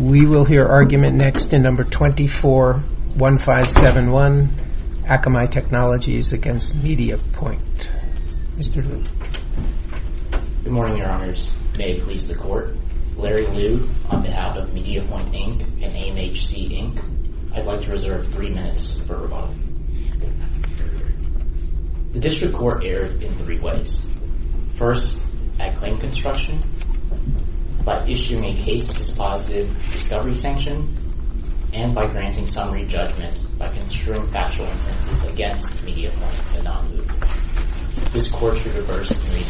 We will hear argument next in No. 24-1571, Akamai Technologies v. MediaPointe. Mr. Liu. Good morning, Your Honors. May it please the Court, Larry Liu, on behalf of MediaPointe, Inc. and AMHC, Inc., I'd like to reserve three minutes for rebuttal. The District Court erred in three ways, first, at claim construction, by issuing a case-dispositive discovery sanction, and by granting summary judgment by construing factual inferences against MediaPointe, a non-movement. This Court should reverse three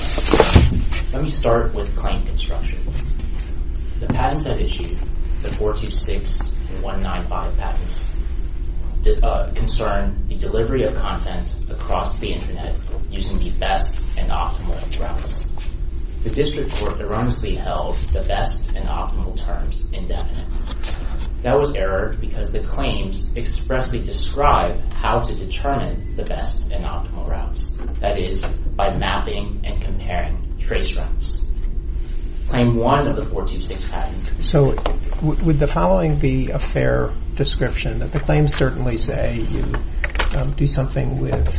minutes. Let me start with claim construction. The patents I've issued, the 426 and 195 patents, concern the delivery of content across the Internet using the best and optimal routes. The District Court erroneously held the best and optimal terms indefinite. That was erred because the claims expressly describe how to determine the best and optimal routes, that is, by mapping and comparing trace routes. Claim one of the 426 patent. So would the following be a fair description, that the claims certainly say you do something with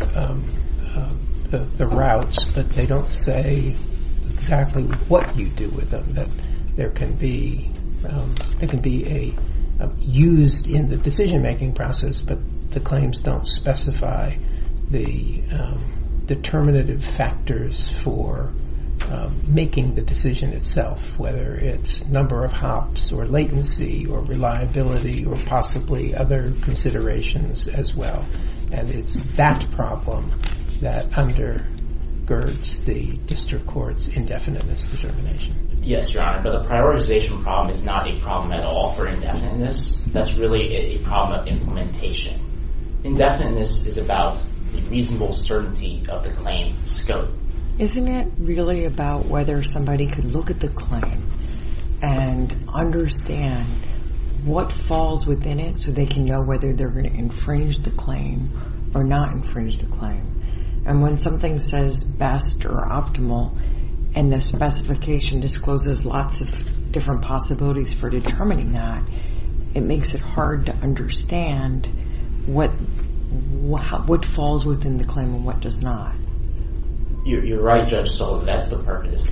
the routes, but they don't say exactly what you do with them, that there can be a used in the decision-making process, but the claims don't specify the determinative factors for making the decision itself, whether it's number of hops or latency or reliability or possibly other considerations as well. And it's that problem that undergirds the District Court's indefiniteness determination. Yes, Your Honor, but the prioritization problem is not a problem at all for indefiniteness. That's really a problem of implementation. Indefiniteness is about the reasonable certainty of the claim scope. Isn't it really about whether somebody could look at the claim and understand what falls within it so they can know whether they're going to infringe the claim or not infringe the claim? And when something says best or optimal and the specification discloses lots of different possibilities for determining that, it makes it hard to understand what falls within the claim and what does not. You're right, Judge Sullivan, that's the purpose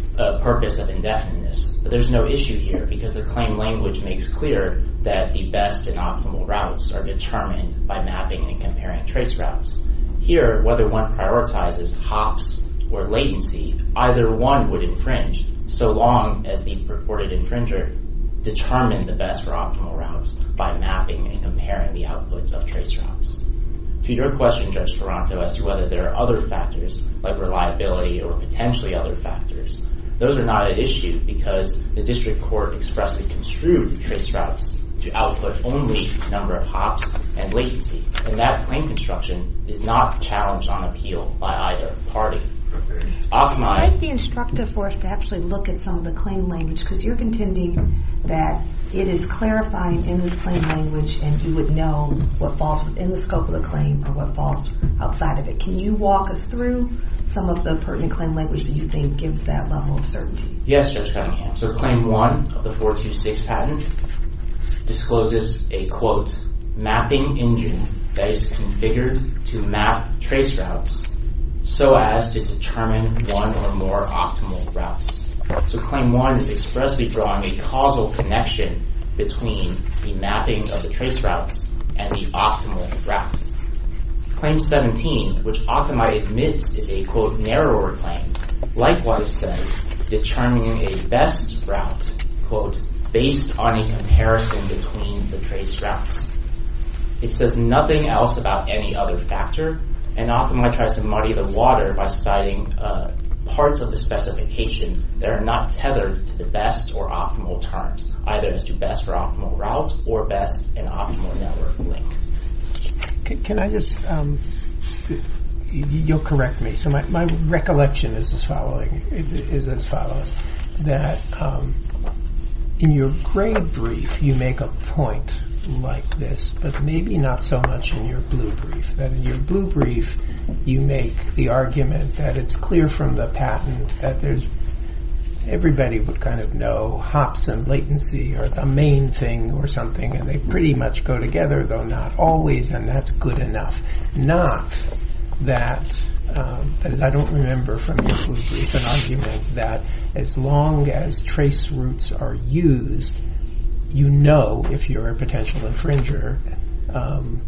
of indefiniteness, but there's no issue here because the claim language makes clear that the best and optimal routes are determined by mapping and comparing trace routes. Here whether one prioritizes hops or latency, either one would infringe so long as the purported infringer determined the best or optimal routes by mapping and comparing the outputs of trace routes. To your question, Judge Ferranto, as to whether there are other factors like reliability or potentially other factors, those are not an issue because the District Court expressly construed trace routes to output only number of hops and latency, and that claim construction is not challenged on appeal by either party. Off-mic. It might be instructive for us to actually look at some of the claim language because you're contending that it is clarifying in this claim language and you would know what falls within the scope of the claim or what falls outside of it. Can you walk us through some of the pertinent claim language that you think gives that level of certainty? Yes, Judge Cunningham. So Claim 1 of the 426 patent discloses a, quote, mapping engine that is configured to map trace routes so as to determine one or more optimal routes. So Claim 1 is expressly drawing a causal connection between the mapping of the trace routes and the optimal routes. Claim 17, which Occamite admits is a, quote, narrower claim, likewise says determining a best route, quote, based on a comparison between the trace routes. It says nothing else about any other factor, and Occamite tries to muddy the water by citing parts of the specification that are not tethered to the best or optimal terms, either as to best or optimal routes or best and optimal network link. Can I just, you'll correct me, so my recollection is as following, is as follows, that in your trade brief you make a point like this, but maybe not so much in your blue brief, that in your blue brief you make the argument that it's clear from the patent that there's, everybody would kind of know hops and latency are the main thing or something and they pretty much go together, though not always, and that's good enough. Not that, as I don't remember from your blue brief, an argument that as long as trace routes are used, you know if you're a potential infringer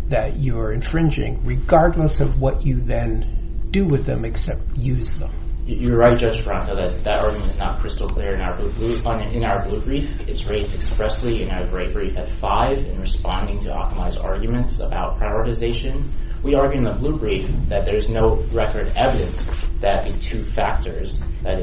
that you are infringing regardless of what you then do with them except use them. You're right, Judge Ferranto, that argument is not crystal clear in our blue brief. It's raised expressly in our great brief at five in responding to Occamite's arguments about prioritization. We argue in the blue brief that there's no record evidence that the two factors, that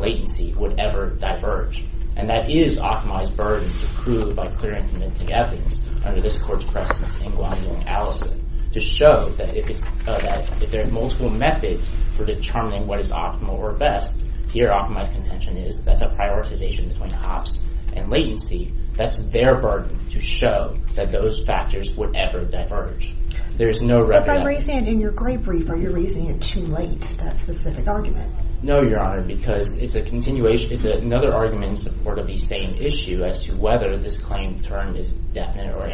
latency, would ever diverge, and that is Occamite's burden to prove by clear and convincing evidence under this court's precedent in Gwendolyn Allison to show that if there are multiple methods for determining what is optimal or best, here Occamite's contention is that's a prioritization between hops and latency. That's their burden to show that those factors would ever diverge. There is no record evidence. But by raising it in your gray brief, are you raising it too late, that specific argument? No, Your Honor, because it's a continuation, it's another argument in support of the same issue as to whether this claim term is indefinite or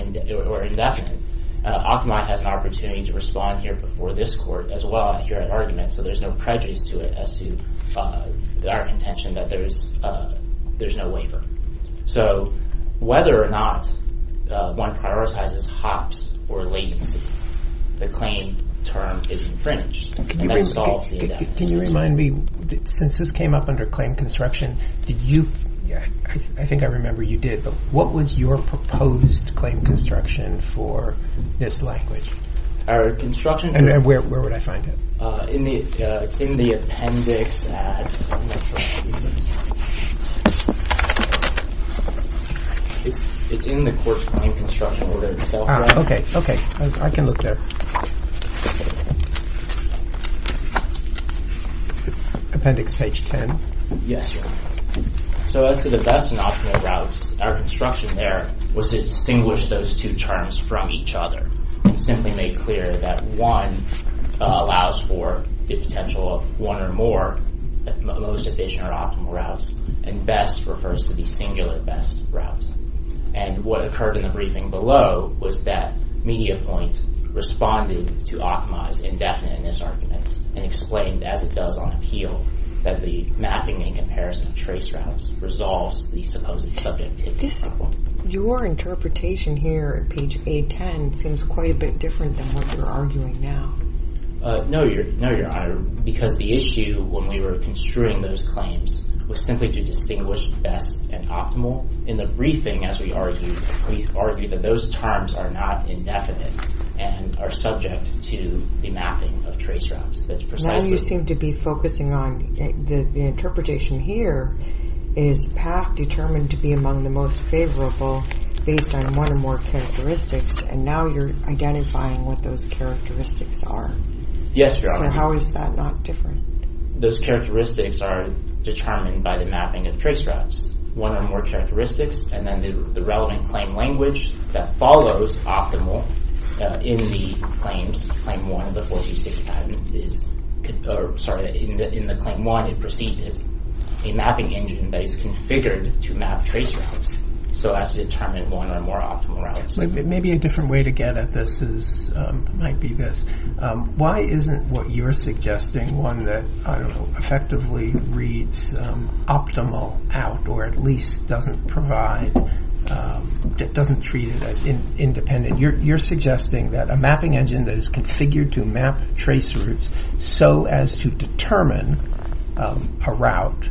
indefinite. Occamite has an opportunity to respond here before this court as well here at argument, so there's no prejudice to it as to our contention that there's no waiver. So whether or not one prioritizes hops or latency, the claim term is infringed. Can you remind me, since this came up under claim construction, did you, I think I remember you did, but what was your proposed claim construction for this language? Our construction? And where would I find it? In the, it's in the appendix at, I'm not sure, it's in the court's claim construction order itself. Okay, okay. I can look there. Appendix page 10. Yes, Your Honor. So as to the best and optimal routes, our construction there was to distinguish those two terms from each other, and simply make clear that one allows for the potential of one or more most efficient or optimal routes, and best refers to the singular best route. And what occurred in the briefing below was that MediaPoint responded to Ocma's indefiniteness arguments and explained, as it does on appeal, that the mapping and comparison of trace routes resolves the supposed subjectivity problem. Your interpretation here at page 810 seems quite a bit different than what you're arguing now. No, Your Honor, because the issue when we were construing those claims was simply to distinguish best and optimal. In the briefing, as we argued, we argued that those terms are not indefinite and are subject to the mapping of trace routes. That's precisely... Now you seem to be focusing on the interpretation here is path determined to be among the most favorable based on one or more characteristics, and now you're identifying what those characteristics are. Yes, Your Honor. So how is that not different? Those characteristics are determined by the mapping of trace routes, one or more characteristics, and then the relevant claim language that follows optimal in the claims, Claim 1, the 426 patent is, or sorry, in the Claim 1, it proceeds as a mapping engine that is configured to map trace routes, so as to determine one or more optimal routes. Maybe a different way to get at this is, might be this. Why isn't what you're suggesting one that, I don't know, effectively reads optimal out or at least doesn't provide, doesn't treat it as independent? You're suggesting that a mapping engine that is configured to map trace routes so as to determine a route,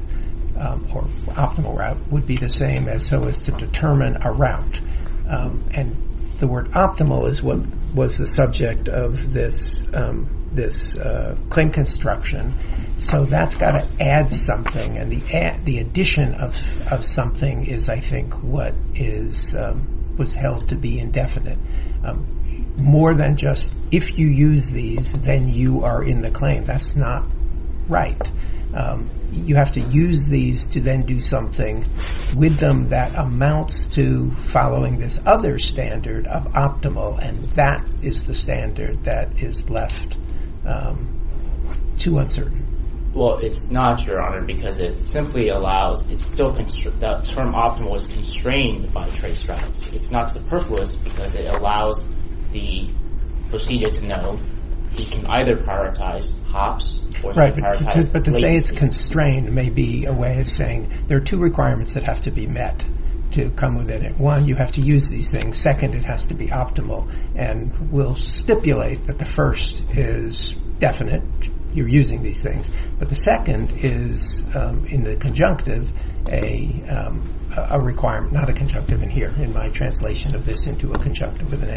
or optimal route, would be the same as so as to determine a route. And the word optimal is what was the subject of this claim construction, so that's got to add something, and the addition of something is, I think, what is, was held to be indefinite. More than just, if you use these, then you are in the claim, that's not right. You have to use these to then do something with them that amounts to following this other standard of optimal, and that is the standard that is left too uncertain. Well, it's not, Your Honor, because it simply allows, it still, the term optimal is constrained by the trace routes. It's not superfluous because it allows the procedure to know, you can either prioritize hops or prioritize latency. Right, but to say it's constrained may be a way of saying there are two requirements that have to be met to come within it. One, you have to use these things. Second, it has to be optimal, and we'll stipulate that the first is definite, you're using these things, but the second is in the conjunctive, a requirement, not a conjunctive in here, in my translation of this into a conjunctive with an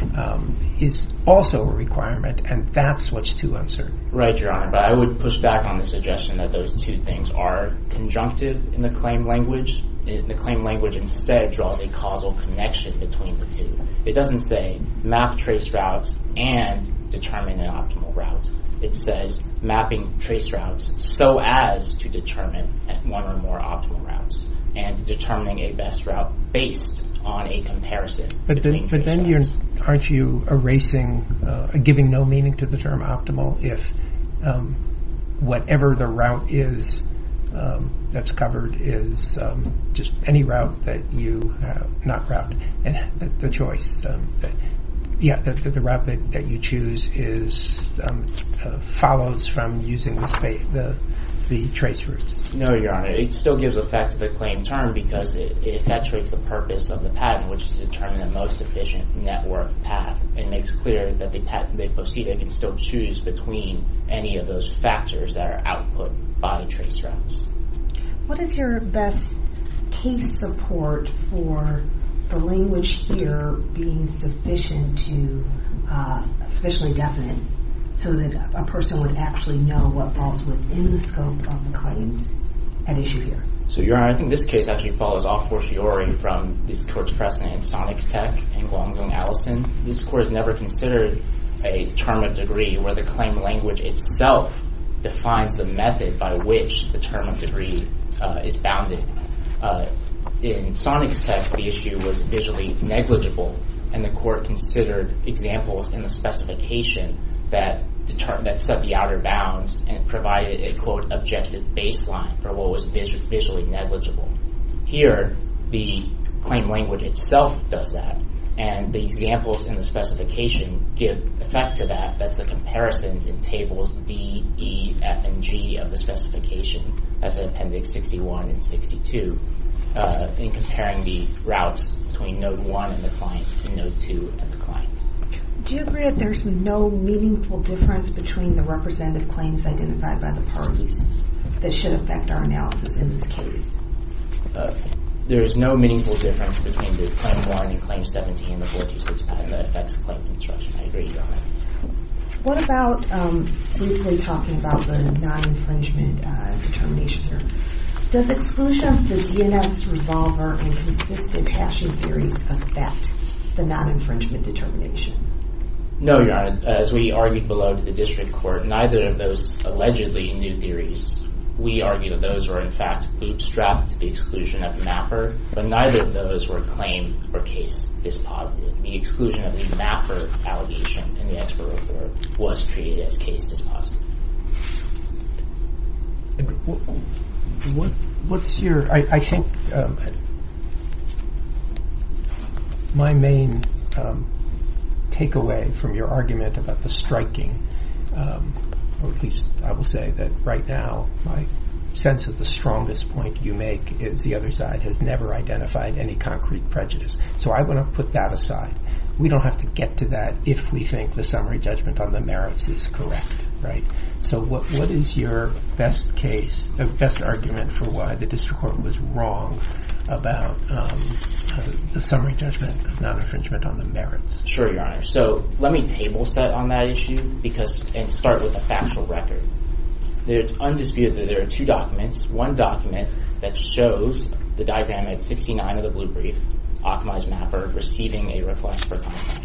and, is also a requirement, and that's much too uncertain. Right, Your Honor, but I would push back on the suggestion that those two things are conjunctive in the claim language. The claim language instead draws a causal connection between the two. It doesn't say map trace routes and determine an optimal route. It says mapping trace routes so as to determine one or more optimal routes, and determining a best route based on a comparison between trace routes. But then aren't you erasing, giving no meaning to the term optimal if whatever the route is that's covered is just any route that you, not route, the choice, yeah, the route that you choose follows from using the trace routes? No, Your Honor, it still gives effect to the claim term because if that treats the purpose of the patent, which is to determine the most efficient network path, it makes clear that the OCDA can still choose between any of those factors that are output by trace routes. What is your best case support for the language here being sufficient to, sufficiently definite so that a person would actually know what falls within the scope of the claims at issue here? So, Your Honor, I think this case actually follows off fortiori from this court's precedent in Sonics Tech and Gwangyong Adelson. This court has never considered a term of degree where the claim language itself defines the method by which the term of degree is bounded. In Sonics Tech, the issue was visually negligible, and the court considered examples in the specification that set the outer bounds and provided a, quote, objective baseline for what was visually negligible. Here, the claim language itself does that, and the examples in the specification give effect to that. That's the comparisons in tables D, E, F, and G of the specification, as in Appendix 61 and 62, in comparing the routes between Node 1 and the client and Node 2 and the client. Do you agree that there's no meaningful difference between the representative claims identified by the parties that should affect our analysis in this case? There's no meaningful difference between the Claim 1 and Claim 17 of the court's decision that affects the claim construction. I agree, Your Honor. What about briefly talking about the non-infringement determination here? Does exclusion of the DNS resolver and consistent hashing theories affect the non-infringement determination? No, Your Honor. As we argued below to the district court, neither of those allegedly new theories, we argue that those were, in fact, bootstrapped the exclusion of mapper, but neither of those were claimed or case dispositive. The exclusion of the mapper allegation in the expert report was treated as case dispositive. I think my main takeaway from your argument about the striking, or at least I will say that right now, my sense of the strongest point you make is the other side has never identified any concrete prejudice, so I want to put that aside. We don't have to get to that if we think the summary judgment on the merits is correct, right? So what is your best case, best argument for why the district court was wrong about the summary judgment of non-infringement on the merits? Sure, Your Honor. So let me table set on that issue and start with a factual record. It's undisputed that there are two documents. One document that shows the diagram at 69 of the blue brief, Akamai's mapper receiving a request for content.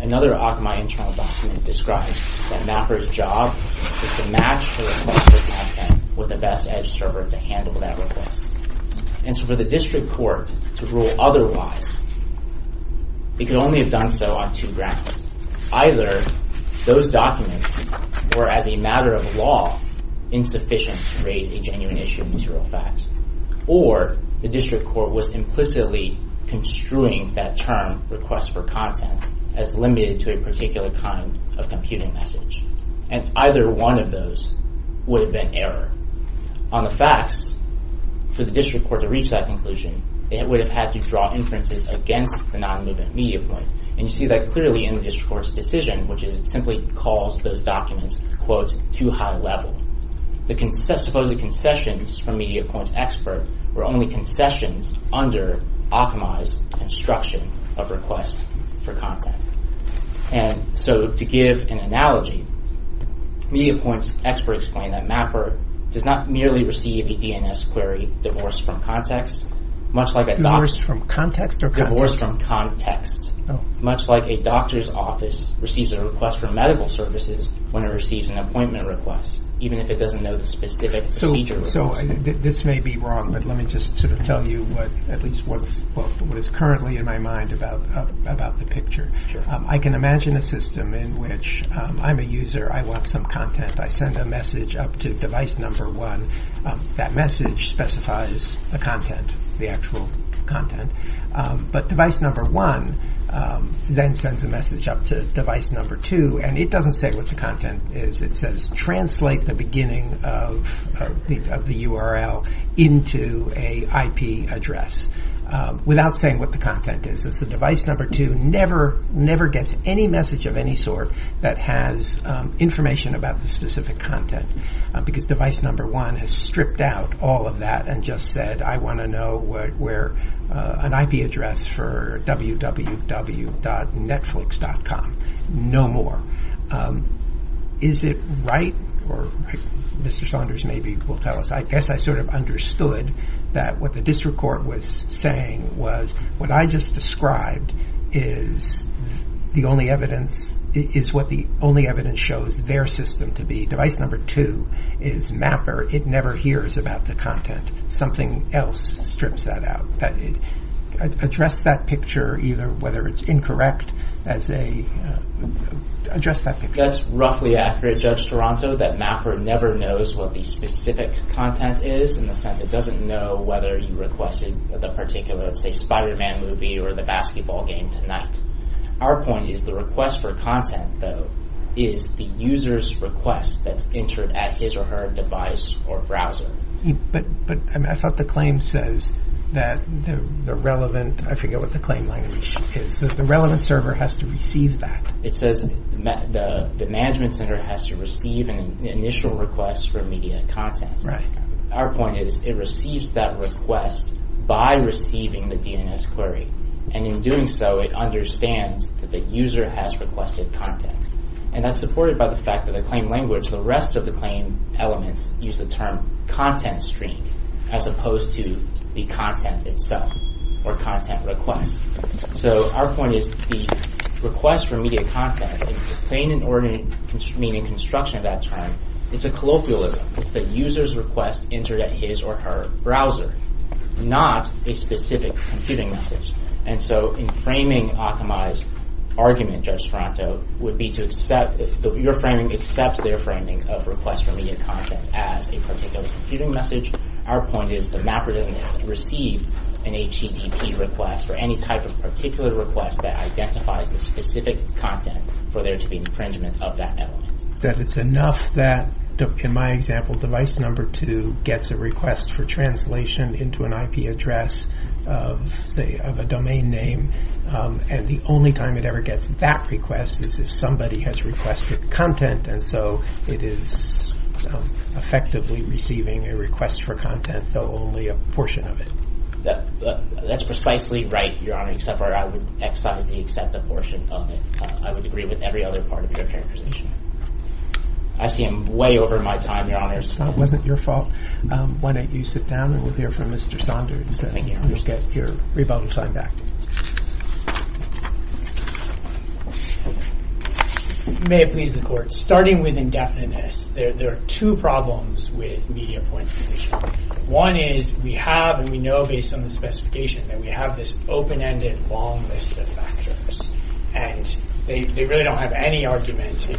Another Akamai internal document describes that mapper's job is to match her request for content with the best edge server to handle that request. And so for the district court to rule otherwise, it could only have done so on two grounds. Either those documents were, as a matter of law, insufficient to raise a genuine issue of material fact, or the district court was implicitly construing that term, request for content, as limited to a particular kind of computing message. And either one of those would have been error. On the facts, for the district court to reach that conclusion, it would have had to draw inferences against the non-movement media point. And you see that clearly in the district court's decision, which is it simply calls those documents, quote, too high level. The supposed concessions from media point's expert were only concessions under Akamai's construction of request for content. And so to give an analogy, media point's expert explained that mapper does not merely receive a DNS query, divorce from context, much like a document. Divorce from context? Divorce from context. Oh. Much like a doctor's office receives a request for medical services when it receives an appointment request, even if it doesn't know the specific feature. So this may be wrong, but let me just sort of tell you at least what is currently in my mind about the picture. I can imagine a system in which I'm a user, I want some content, I send a message up to device number one. That message specifies the content, the actual content. But device number one then sends a message up to device number two, and it doesn't say what the content is. It says translate the beginning of the URL into a IP address without saying what the content is. So device number two never gets any message of any sort that has information about the specific content, because device number one has stripped out all of that and just said, I want to know where an IP address for www.netflix.com. No more. Is it right, or Mr. Saunders maybe will tell us, I guess I sort of understood that what the district court was saying was what I just described is the only evidence, is what the only evidence shows their system to be. Device number two is mapper. It never hears about the content. Something else strips that out. Address that picture, either whether it's incorrect as a, address that picture. That's roughly accurate, Judge Toronto, that mapper never knows what the specific content is in the sense it doesn't know whether you requested the particular, let's say, Spiderman movie or the basketball game tonight. Our point is the request for content, though, is the user's request that's entered at his or her device or browser. But I thought the claim says that the relevant, I forget what the claim language is, the relevant server has to receive that. It says the management center has to receive an initial request for immediate content. Our point is it receives that request by receiving the DNS query, and in doing so, it understands that the user has requested content, and that's supported by the fact that the claim language, the rest of the claim elements use the term content stream as opposed to the content itself or content request. So our point is the request for immediate content, the claim in order, meaning construction of that term, it's a colloquialism. It's the user's request entered at his or her browser, not a specific computing message. And so in framing Akamai's argument, Judge Toronto, would be to accept, your framing accepts their framing of request for immediate content as a particular computing message. Our point is the mapper doesn't have to receive an HTTP request or any type of particular request that identifies the specific content for there to be infringement of that element. That it's enough that, in my example, device number two gets a request for translation into an IP address of a domain name, and the only time it ever gets that request is if somebody has requested content. And so it is effectively receiving a request for content, though only a portion of it. That's precisely right, Your Honor, except for I would excise the except the portion of it. I would agree with every other part of your characterization. I see I'm way over my time, Your Honor. It wasn't your fault. Why don't you sit down and we'll hear from Mr. Saunders. Thank you. And you'll get your rebuttal time back. May it please the court, starting with indefiniteness, there are two problems with media points condition. One is we have, and we know based on the specification, that we have this open-ended long list of factors. And they really don't have any argument to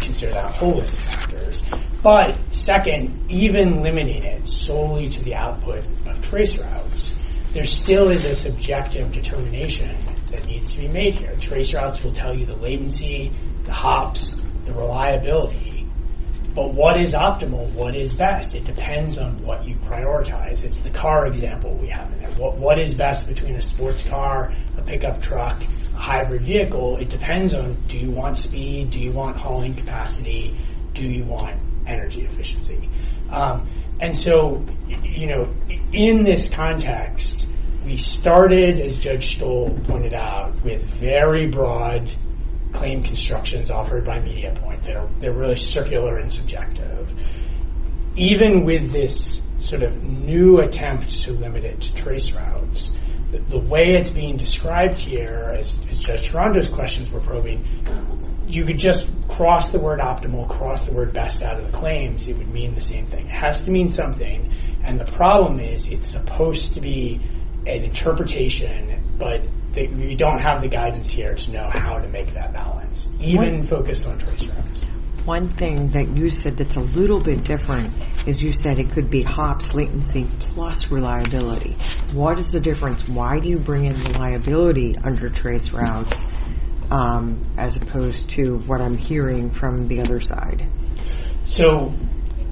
consider that a whole list of factors. But second, even limiting it solely to the output of trace routes, there still is a subjective determination that needs to be made here. Trace routes will tell you the latency, the hops, the reliability. But what is optimal? What is best? It depends on what you prioritize. It's the car example we have in there. What is best between a sports car, a pickup truck, a hybrid vehicle? It depends on do you want speed? Do you want hauling capacity? Do you want energy efficiency? And so in this context, we started, as Judge Stoll pointed out, with very broad claim constructions offered by media point. They're really circular and subjective. Even with this sort of new attempt to limit it to trace routes, the way it's being described here, as Judge Tarando's questions were probing, you could just cross the word optimal, cross the word best out of the claims, it would mean the same thing. It has to mean something. And the problem is it's supposed to be an interpretation, but we don't have the guidance here to know how to make that balance, even focused on trace routes. One thing that you said that's a little bit different is you said it could be hops, latency plus reliability. What is the difference? Why do you bring in reliability under trace routes as opposed to what I'm hearing from the other side? So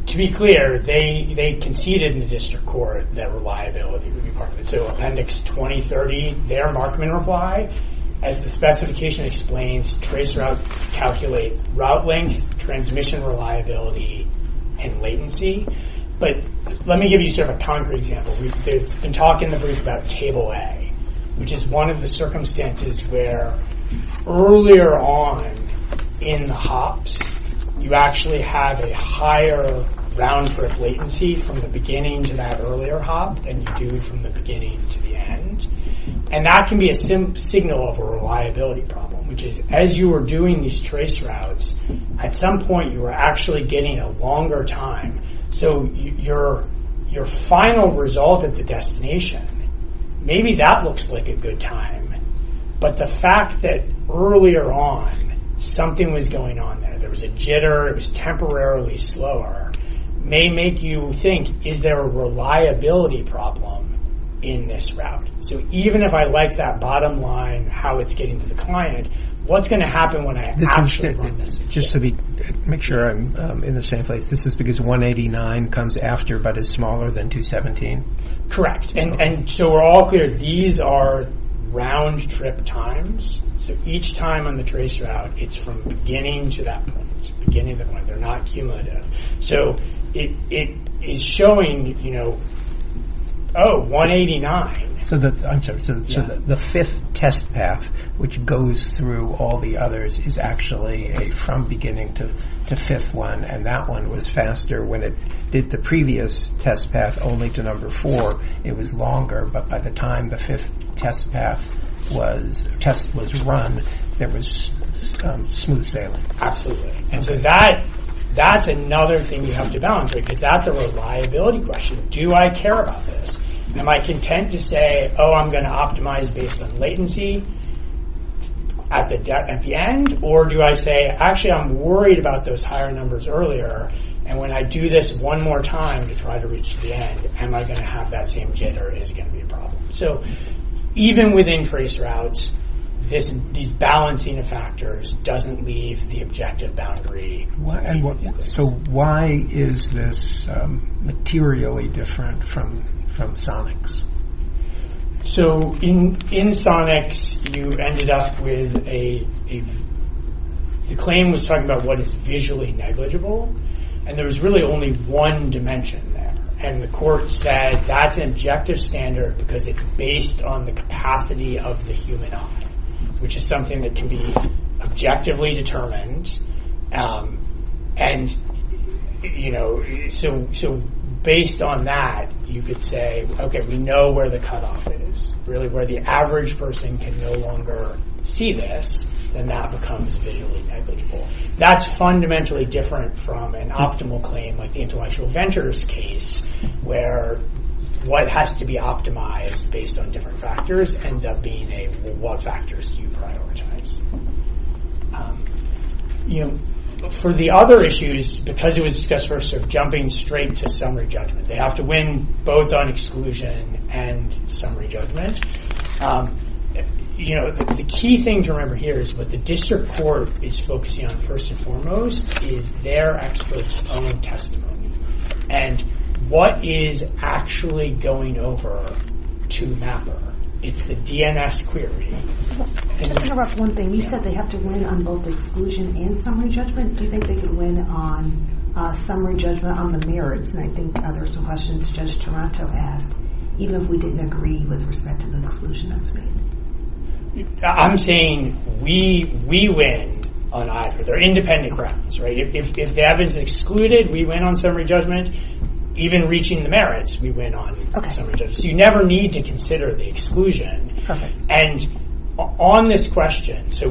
to be clear, they conceded in the district court that reliability would be part of it. So Appendix 2030, their markman reply, as the specification explains, trace routes calculate route length, transmission reliability, and latency. But let me give you sort of a concrete example. We've been talking in the brief about Table A, which is one of the circumstances where earlier on in the hops, you actually have a higher round trip latency from the beginning to that earlier hop than you do from the beginning to the end. And that can be a signal of a reliability problem, which is as you were doing these trace routes, at some point you were actually getting a longer time. So your final result at the destination, maybe that looks like a good time, but the fact that earlier on something was going on there, there was a jitter, it was temporarily slower, may make you think, is there a reliability problem in this route? So even if I like that bottom line, how it's getting to the client, what's going to happen when I actually run this? Just to make sure I'm in the same place, this is because 189 comes after but is smaller than 217? Correct. And so we're all clear, these are round trip times. So each time on the trace route, it's from the beginning to that point, beginning of the point, they're not cumulative. So it is showing, you know, oh, 189. So the fifth test path, which goes through all the others, is actually from beginning to fifth one, and that one was faster when it did the previous test path only to number four, it was longer, but by the time the fifth test was run, there was smooth sailing. Absolutely. And so that's another thing you have to balance, because that's a reliability question. Do I care about this? Am I content to say, oh, I'm going to optimize based on latency at the end? Or do I say, actually, I'm worried about those higher numbers earlier, and when I do this one more time to try to reach the end, am I going to have that same jitter? Is it going to be a problem? So even within trace routes, these balancing of factors doesn't leave the objective boundary. And so why is this materially different from SONIX? So in SONIX, you ended up with a, the claim was talking about what is visually negligible, and there was really only one dimension there. And the court said that's an objective standard because it's based on the capacity of the human eye, which is something that can be objectively determined. And so based on that, you could say, okay, we know where the cutoff is, really where the average person can no longer see this, then that becomes visually negligible. That's fundamentally different from an optimal claim like the intellectual ventures case, where what has to be optimized based on different factors ends up being a, what factors do you prioritize? You know, for the other issues, because it was discussed, we're sort of jumping straight to summary judgment. They have to win both on exclusion and summary judgment. You know, the key thing to remember here is what the district court is focusing on first and foremost is their expert's own testimony. And what is actually going over to MAPR? It's the DNS query. Q Just to interrupt one thing, you said they have to win on both exclusion and summary judgment. Do you think they could win on summary judgment on the merits? And I think there's some questions Judge Toronto asked, even if we didn't agree with respect to the exclusion that's made. A I'm saying we win on either. They're independent grounds, right? If the evidence is excluded, we win on summary judgment. Even reaching the merits, we win on summary judgment. So you never need to consider the exclusion. And on this question, so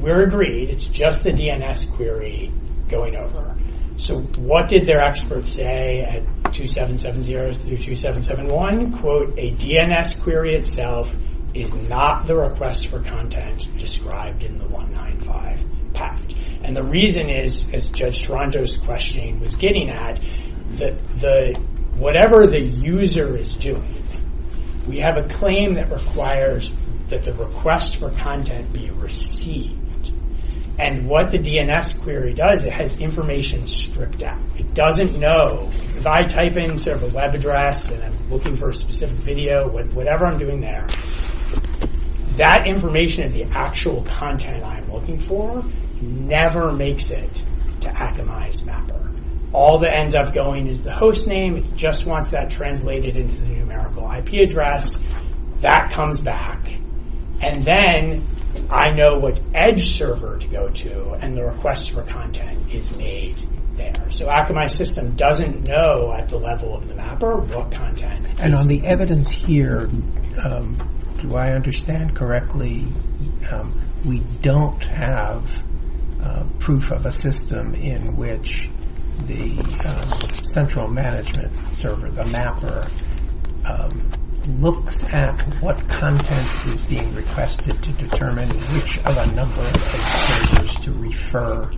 we're agreed, it's just the DNS query going over. So what did their experts say at 2770 through 2771? Quote, a DNS query itself is not the request for content described in the 195 pact. And the reason is, as Judge Toronto's questioning was getting at, that whatever the user is doing, we have a claim that requires that the request for content be received. And what the DNS query does, it has information stripped out. It doesn't know if I type in sort of a web address and I'm looking for a specific video, whatever I'm doing there, that information and the actual content I'm looking for never makes it to Akamai's mapper. All that ends up going is the host name. It just wants that translated into the numerical IP address. That comes back. And then I know what edge server to go to and the request for content is made there. So Akamai's system doesn't know at the level of the mapper what content. And on the evidence here, do I understand correctly, we don't have proof of a system in which the central management server, the mapper, looks at what content is being requested to determine which of a number of edge servers to refer,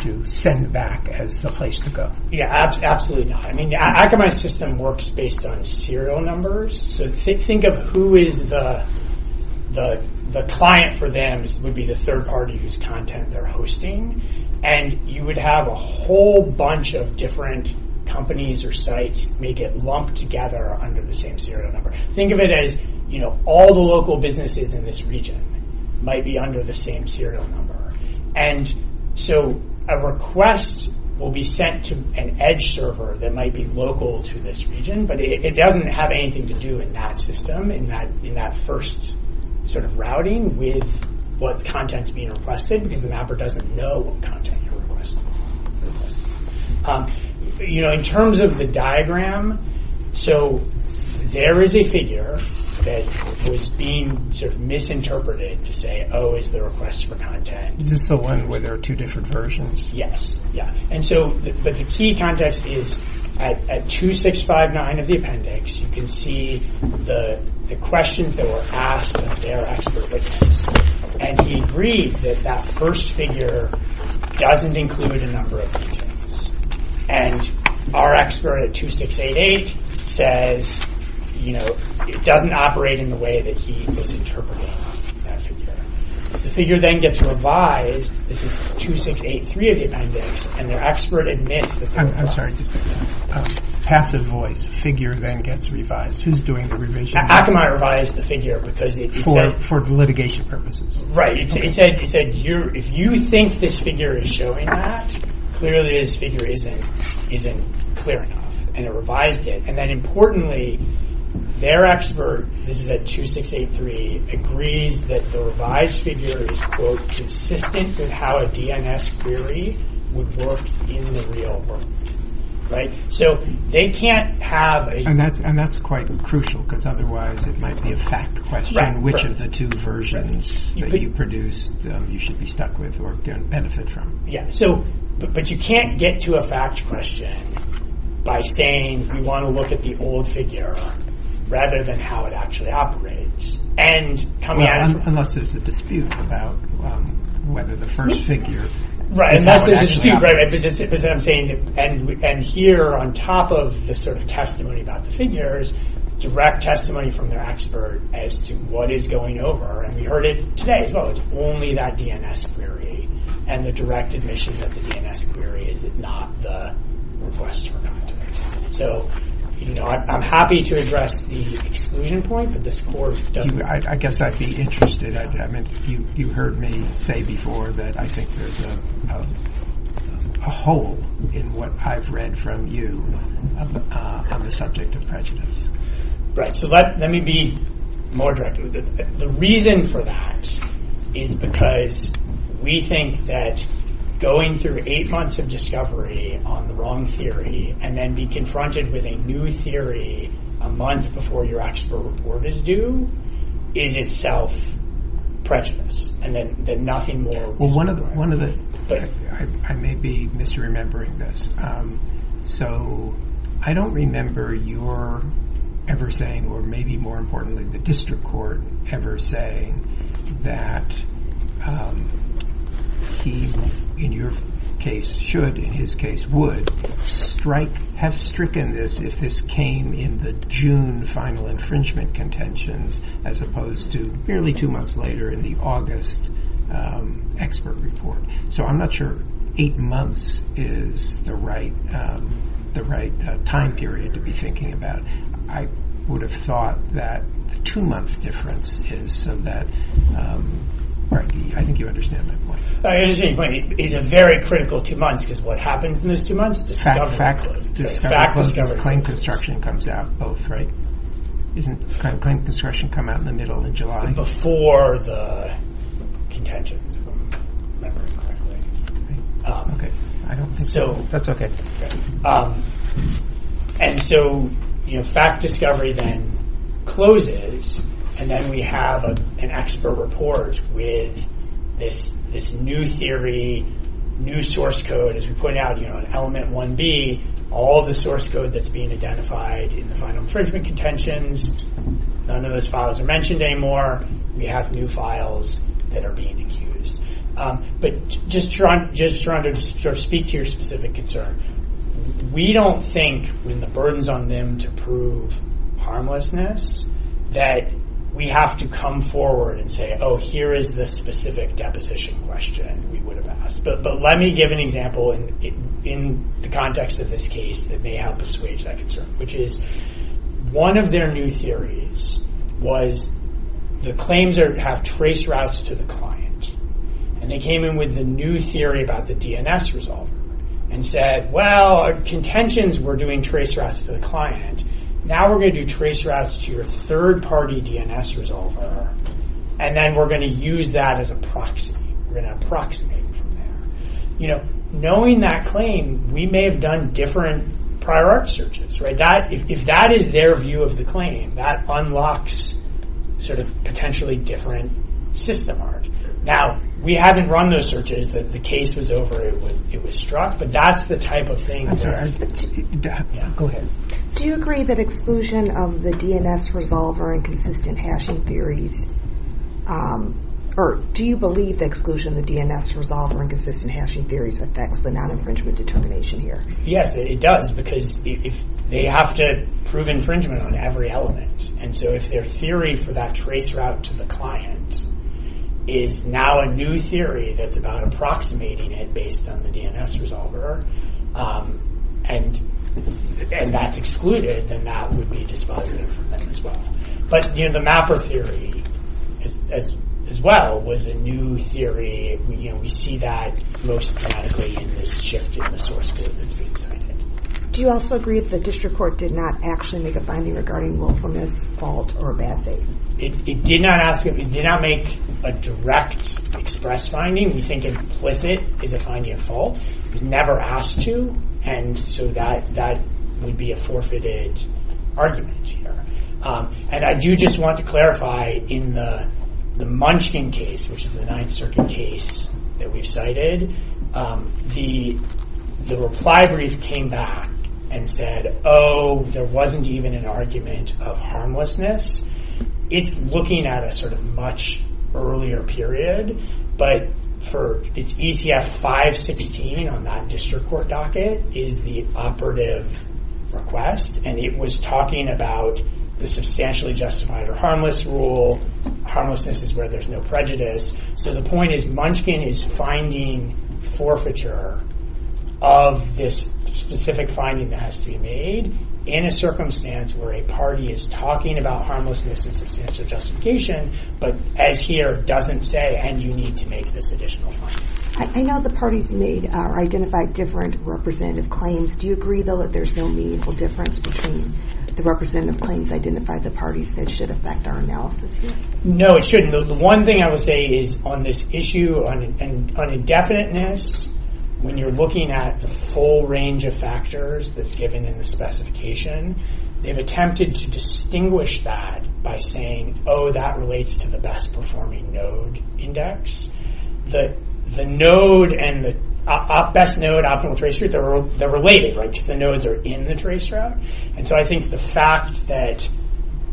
to send back as the place to go? Yeah, absolutely not. Akamai's system works based on serial numbers. So think of who is the client for them would be the third party whose content they're hosting. And you would have a whole bunch of different companies or sites may get lumped together under the same serial number. Think of it as all the local businesses in this region might be under the same serial number. And so a request will be sent to an edge server that might be local to this region. But it doesn't have anything to do in that system, in that first routing with what content is being requested because the mapper doesn't know what content you're requesting. In terms of the diagram, so there is a figure that was being misinterpreted to say, O is the request for content. Is this the one where there are two different versions? Yes. Yeah. And so the key context is at 2659 of the appendix, you can see the questions that were asked of their expert witness. And he agreed that that first figure doesn't include a number of contents. And our expert at 2688 says it doesn't operate in the way that he was interpreting that figure. The figure then gets revised. This is 2683 of the appendix. And their expert admits that... I'm sorry. Passive voice. Figure then gets revised. Who's doing the revision? Akamai revised the figure because he said... For litigation purposes. Right. He said, if you think this figure is showing that, clearly this figure isn't clear enough. And it revised it. Importantly, their expert, this is at 2683, agrees that the revised figure is, quote, consistent with how a DNS query would work in the real world, right? So they can't have a... And that's quite crucial because otherwise it might be a fact question. Which of the two versions that you produce you should be stuck with or benefit from. But you can't get to a fact question by saying, you want to look at the old figure rather than how it actually operates. And coming out... Unless there's a dispute about whether the first figure is how it actually operates. Right, unless there's a dispute, right. But then I'm saying, and here on top of this sort of testimony about the figures, direct testimony from their expert as to what is going over. And we heard it today as well. It's only that DNS query and the direct admissions of the DNS query. Is it not the request for content? So I'm happy to address the exclusion point, but this court doesn't... I guess I'd be interested. I mean, you heard me say before that I think there's a hole in what I've read from you on the subject of prejudice. Right, so let me be more direct with it. The reason for that is because we think that going through eight months of discovery on the wrong theory and then be confronted with a new theory a month before your expert report is due is itself prejudice. And that nothing more... Well, one of the... I may be misremembering this. So I don't remember your ever saying, or maybe more importantly, the district court ever saying that he, in your case, should, in his case, would strike... have stricken this if this came in the June final infringement contentions as opposed to barely two months later in the August expert report. So I'm not sure eight months is the right time period to be thinking about. I would have thought that the two-month difference is so that... Right, I think you understand my point. I understand your point. It's a very critical two months because what happens in those two months? Discovered and closed. Discovered and closed and claim construction comes out both, right? Isn't claim construction come out in the middle in July? Before the contentions, if I'm remembering correctly. Okay, I don't think so. That's okay. Okay. And so, you know, fact discovery then closes and then we have an expert report with this new theory, new source code. As we pointed out, you know, in element 1B, all of the source code that's being identified in the final infringement contentions, none of those files are mentioned anymore. We have new files that are being accused. But just to speak to your specific concern, we don't think when the burden's on them to prove harmlessness that we have to come forward and say, oh, here is the specific deposition question we would have asked. But let me give an example in the context of this case that may help us wage that concern, which is one of their new theories was the claims have trace routes to the client. And they came in with the new theory about the DNS resolver and said, well, contentions were doing trace routes to the client. Now we're going to do trace routes to your third-party DNS resolver. And then we're going to use that as a proxy. We're going to approximate from there. You know, knowing that claim, we may have done different prior art searches, right? That, if that is their view of the claim, that unlocks sort of potentially different system art. Now, we haven't run those searches. The case was over. It was struck. But that's the type of thing. Go ahead. Do you agree that exclusion of the DNS resolver and consistent hashing theories, or do you believe the exclusion of the DNS resolver and consistent hashing theories affects the non-infringement determination here? Yes, it does. Because they have to prove infringement on every element. And so if their theory for that trace route to the client is now a new theory that's about approximating it based on the DNS resolver, and that's excluded, then that would be dispositive for them as well. But, you know, the mapper theory as well was a new theory. You know, we see that most dramatically in this shift in the source code that's being cited. Do you also agree that the district court did not actually make a finding regarding willfulness, fault, or bad faith? It did not ask, it did not make a direct express finding. We think implicit is a finding of fault. It was never asked to. And so that would be a forfeited argument here. And I do just want to clarify in the Munchkin case, which is the Ninth Circuit case that we've cited, the reply brief came back and said, oh, there wasn't even an argument of harmlessness. It's looking at a sort of much earlier period. But for ECF 516 on that district court docket is the operative request. And it was talking about the substantially justified or harmless rule. Harmlessness is where there's no prejudice. So the point is Munchkin is finding forfeiture of this specific finding that has to be made in a circumstance where a party is talking about harmlessness and substantial justification, but as here doesn't say, and you need to make this additional finding. I know the parties made or identified different representative claims. Do you agree though that there's no meaningful difference between the representative claims identified the parties that should affect our analysis here? No, it shouldn't. The one thing I would say is on this issue on indefiniteness, when you're looking at the full range of factors that's given in the specification, they've attempted to distinguish that by saying, oh, that relates to the best performing node index. The node and the best node optimal trace rate, they're related, right? Because the nodes are in the trace route. And so I think the fact that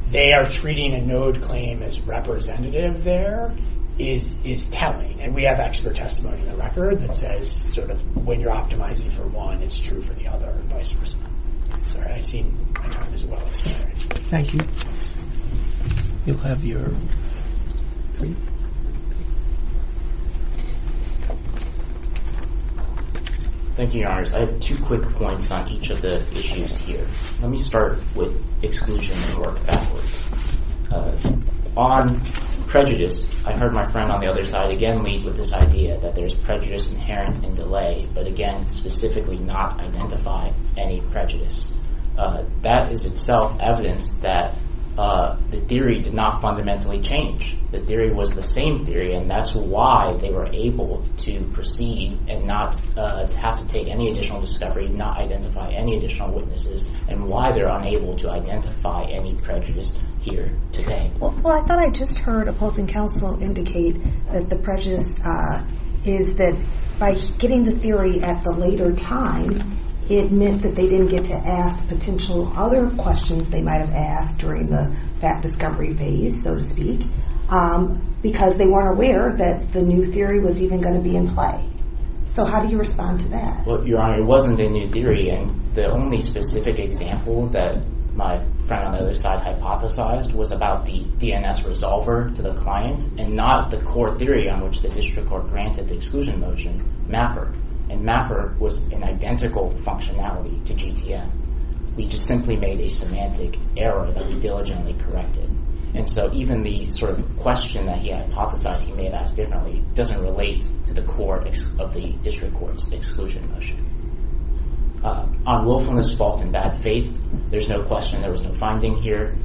they are treating a node claim as representative there is telling. And we have expert testimony in the record that says, sort of, when you're optimizing for one, it's true for the other and vice versa. Sorry, I've seen my time is well expired. Thank you. You'll have your three. Thank you, your honors. I have two quick points on each of the issues here. Let me start with exclusion and work backwards. On prejudice, I heard my friend on the other side again lead with this idea that there's prejudice inherent in delay, but again, specifically not identify any prejudice. That is itself evidence that the theory did not fundamentally change. The theory was the same theory, and that's why they were able to proceed and not have to take any additional discovery, not identify any additional witnesses, and why they're unable to identify any prejudice here today. Well, I thought I just heard opposing counsel indicate that the prejudice is that by getting the theory at the later time, it meant that they didn't get to ask potential other questions they might have asked during the fact discovery phase, so to speak, because they weren't aware that the new theory was even going to be in play. So how do you respond to that? Your honor, it wasn't a new theory, and the only specific example that my friend on the other side hypothesized was about the DNS resolver to the client and not the core theory on which the district court granted the exclusion motion, MAPR, and MAPR was an identical functionality to GTM. We just simply made a semantic error that we diligently corrected, and so even the sort of question that he hypothesized he made as differently doesn't relate to the core of the district court's exclusion motion. On willfulness, fault, and bad faith, there's no question there was no finding here.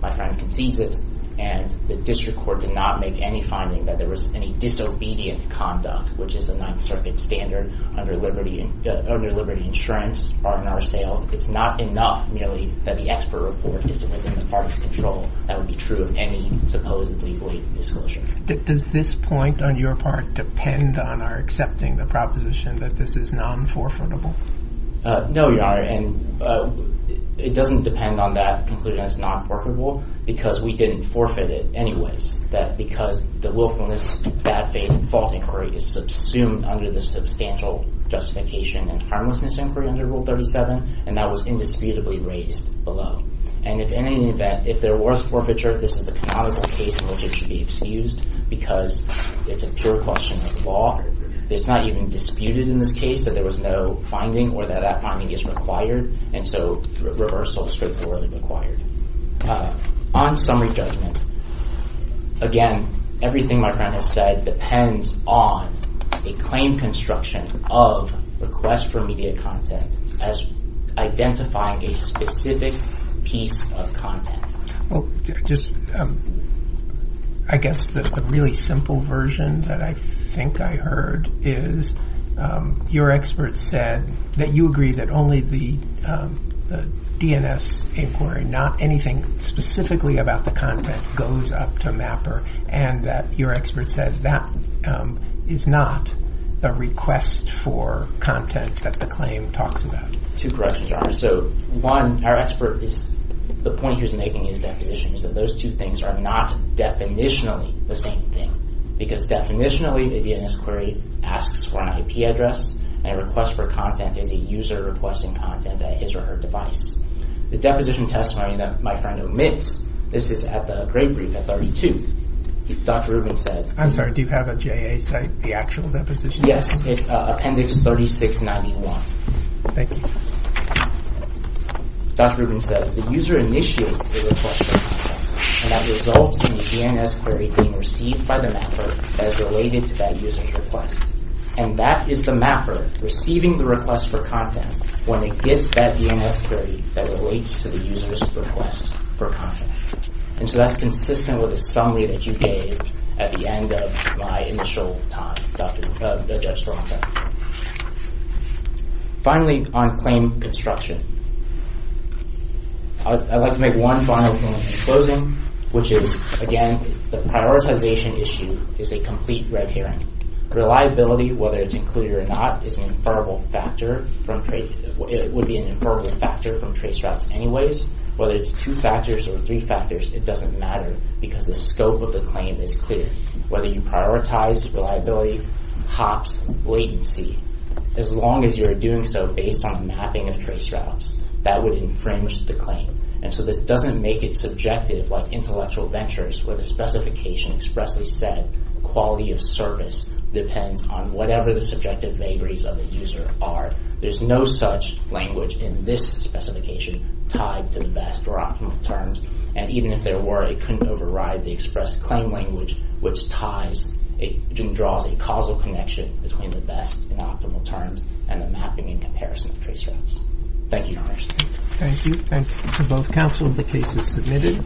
My friend concedes it, and the district court did not make any finding that there was any disobedient conduct, which is a Ninth Circuit standard under liberty insurance, R&R sales. It's not enough merely that the expert report isn't within the party's control. That would be true of any supposedly late disclosure. Does this point on your part depend on our accepting the proposition that this is non-forfeitable? No, your honor, and it doesn't depend on that conclusion as non-forfeitable because we didn't forfeit it anyways. That because the willfulness, bad faith, and fault inquiry is subsumed under the substantial justification and harmlessness inquiry under Rule 37, and that was indisputably raised below. And if in any event, if there was forfeiture, this is a canonical case in which it should be excused because it's a pure question of law. It's not even disputed in this case that there was no finding or that that finding is required, and so reversal is straightforwardly required. On summary judgment, again, everything my friend has said depends on a claim construction of request for media content as identifying a specific piece of content. Well, just I guess the really simple version that I think I heard is your expert said that you agree that only the DNS inquiry, not anything specifically about the content, goes up to MAPR and that your expert said that is not a request for content that the claim talks about. Two corrections there are. So one, our expert is, the point he was making in his deposition is that those two things are not definitionally the same thing because definitionally the DNS query asks for an IP address and a request for content is a user requesting content at his or her device. The deposition testimony that my friend omits, this is at the grade brief at 32, Dr. Rubin said. I'm sorry, do you have a JA site, the actual deposition? Yes, it's Appendix 3691. Thank you. Dr. Rubin said the user initiates the request and that results in the DNS query being received by the MAPR that is related to that user's request and that is the MAPR receiving the request for content when it gets that DNS query that relates to the user's request for content. And so that's consistent with the summary that you gave at the end of my initial talk, the judge for content. Finally, on claim construction, I'd like to make one final point in closing, which is, again, the prioritization issue is a complete red herring. Reliability, whether it's included or not, is an inferrable factor from, it would be an inferrable factor from trace routes anyways. Whether it's two factors or three factors, it doesn't matter because the scope of the claim is clear. Whether you prioritize reliability, hops, latency, as long as you're doing so based on the mapping of trace routes, that would infringe the claim. And so this doesn't make it subjective like intellectual ventures where the specification expressly said quality of service depends on whatever the subjective vagaries of the user are. There's no such language in this specification tied to the best or optimal terms. And even if there were, it couldn't override the express claim language, which draws a causal connection between the best and optimal terms and the mapping and comparison of trace routes. Thank you, Your Honors. Thank you. Thank you to both counsel. The case is submitted.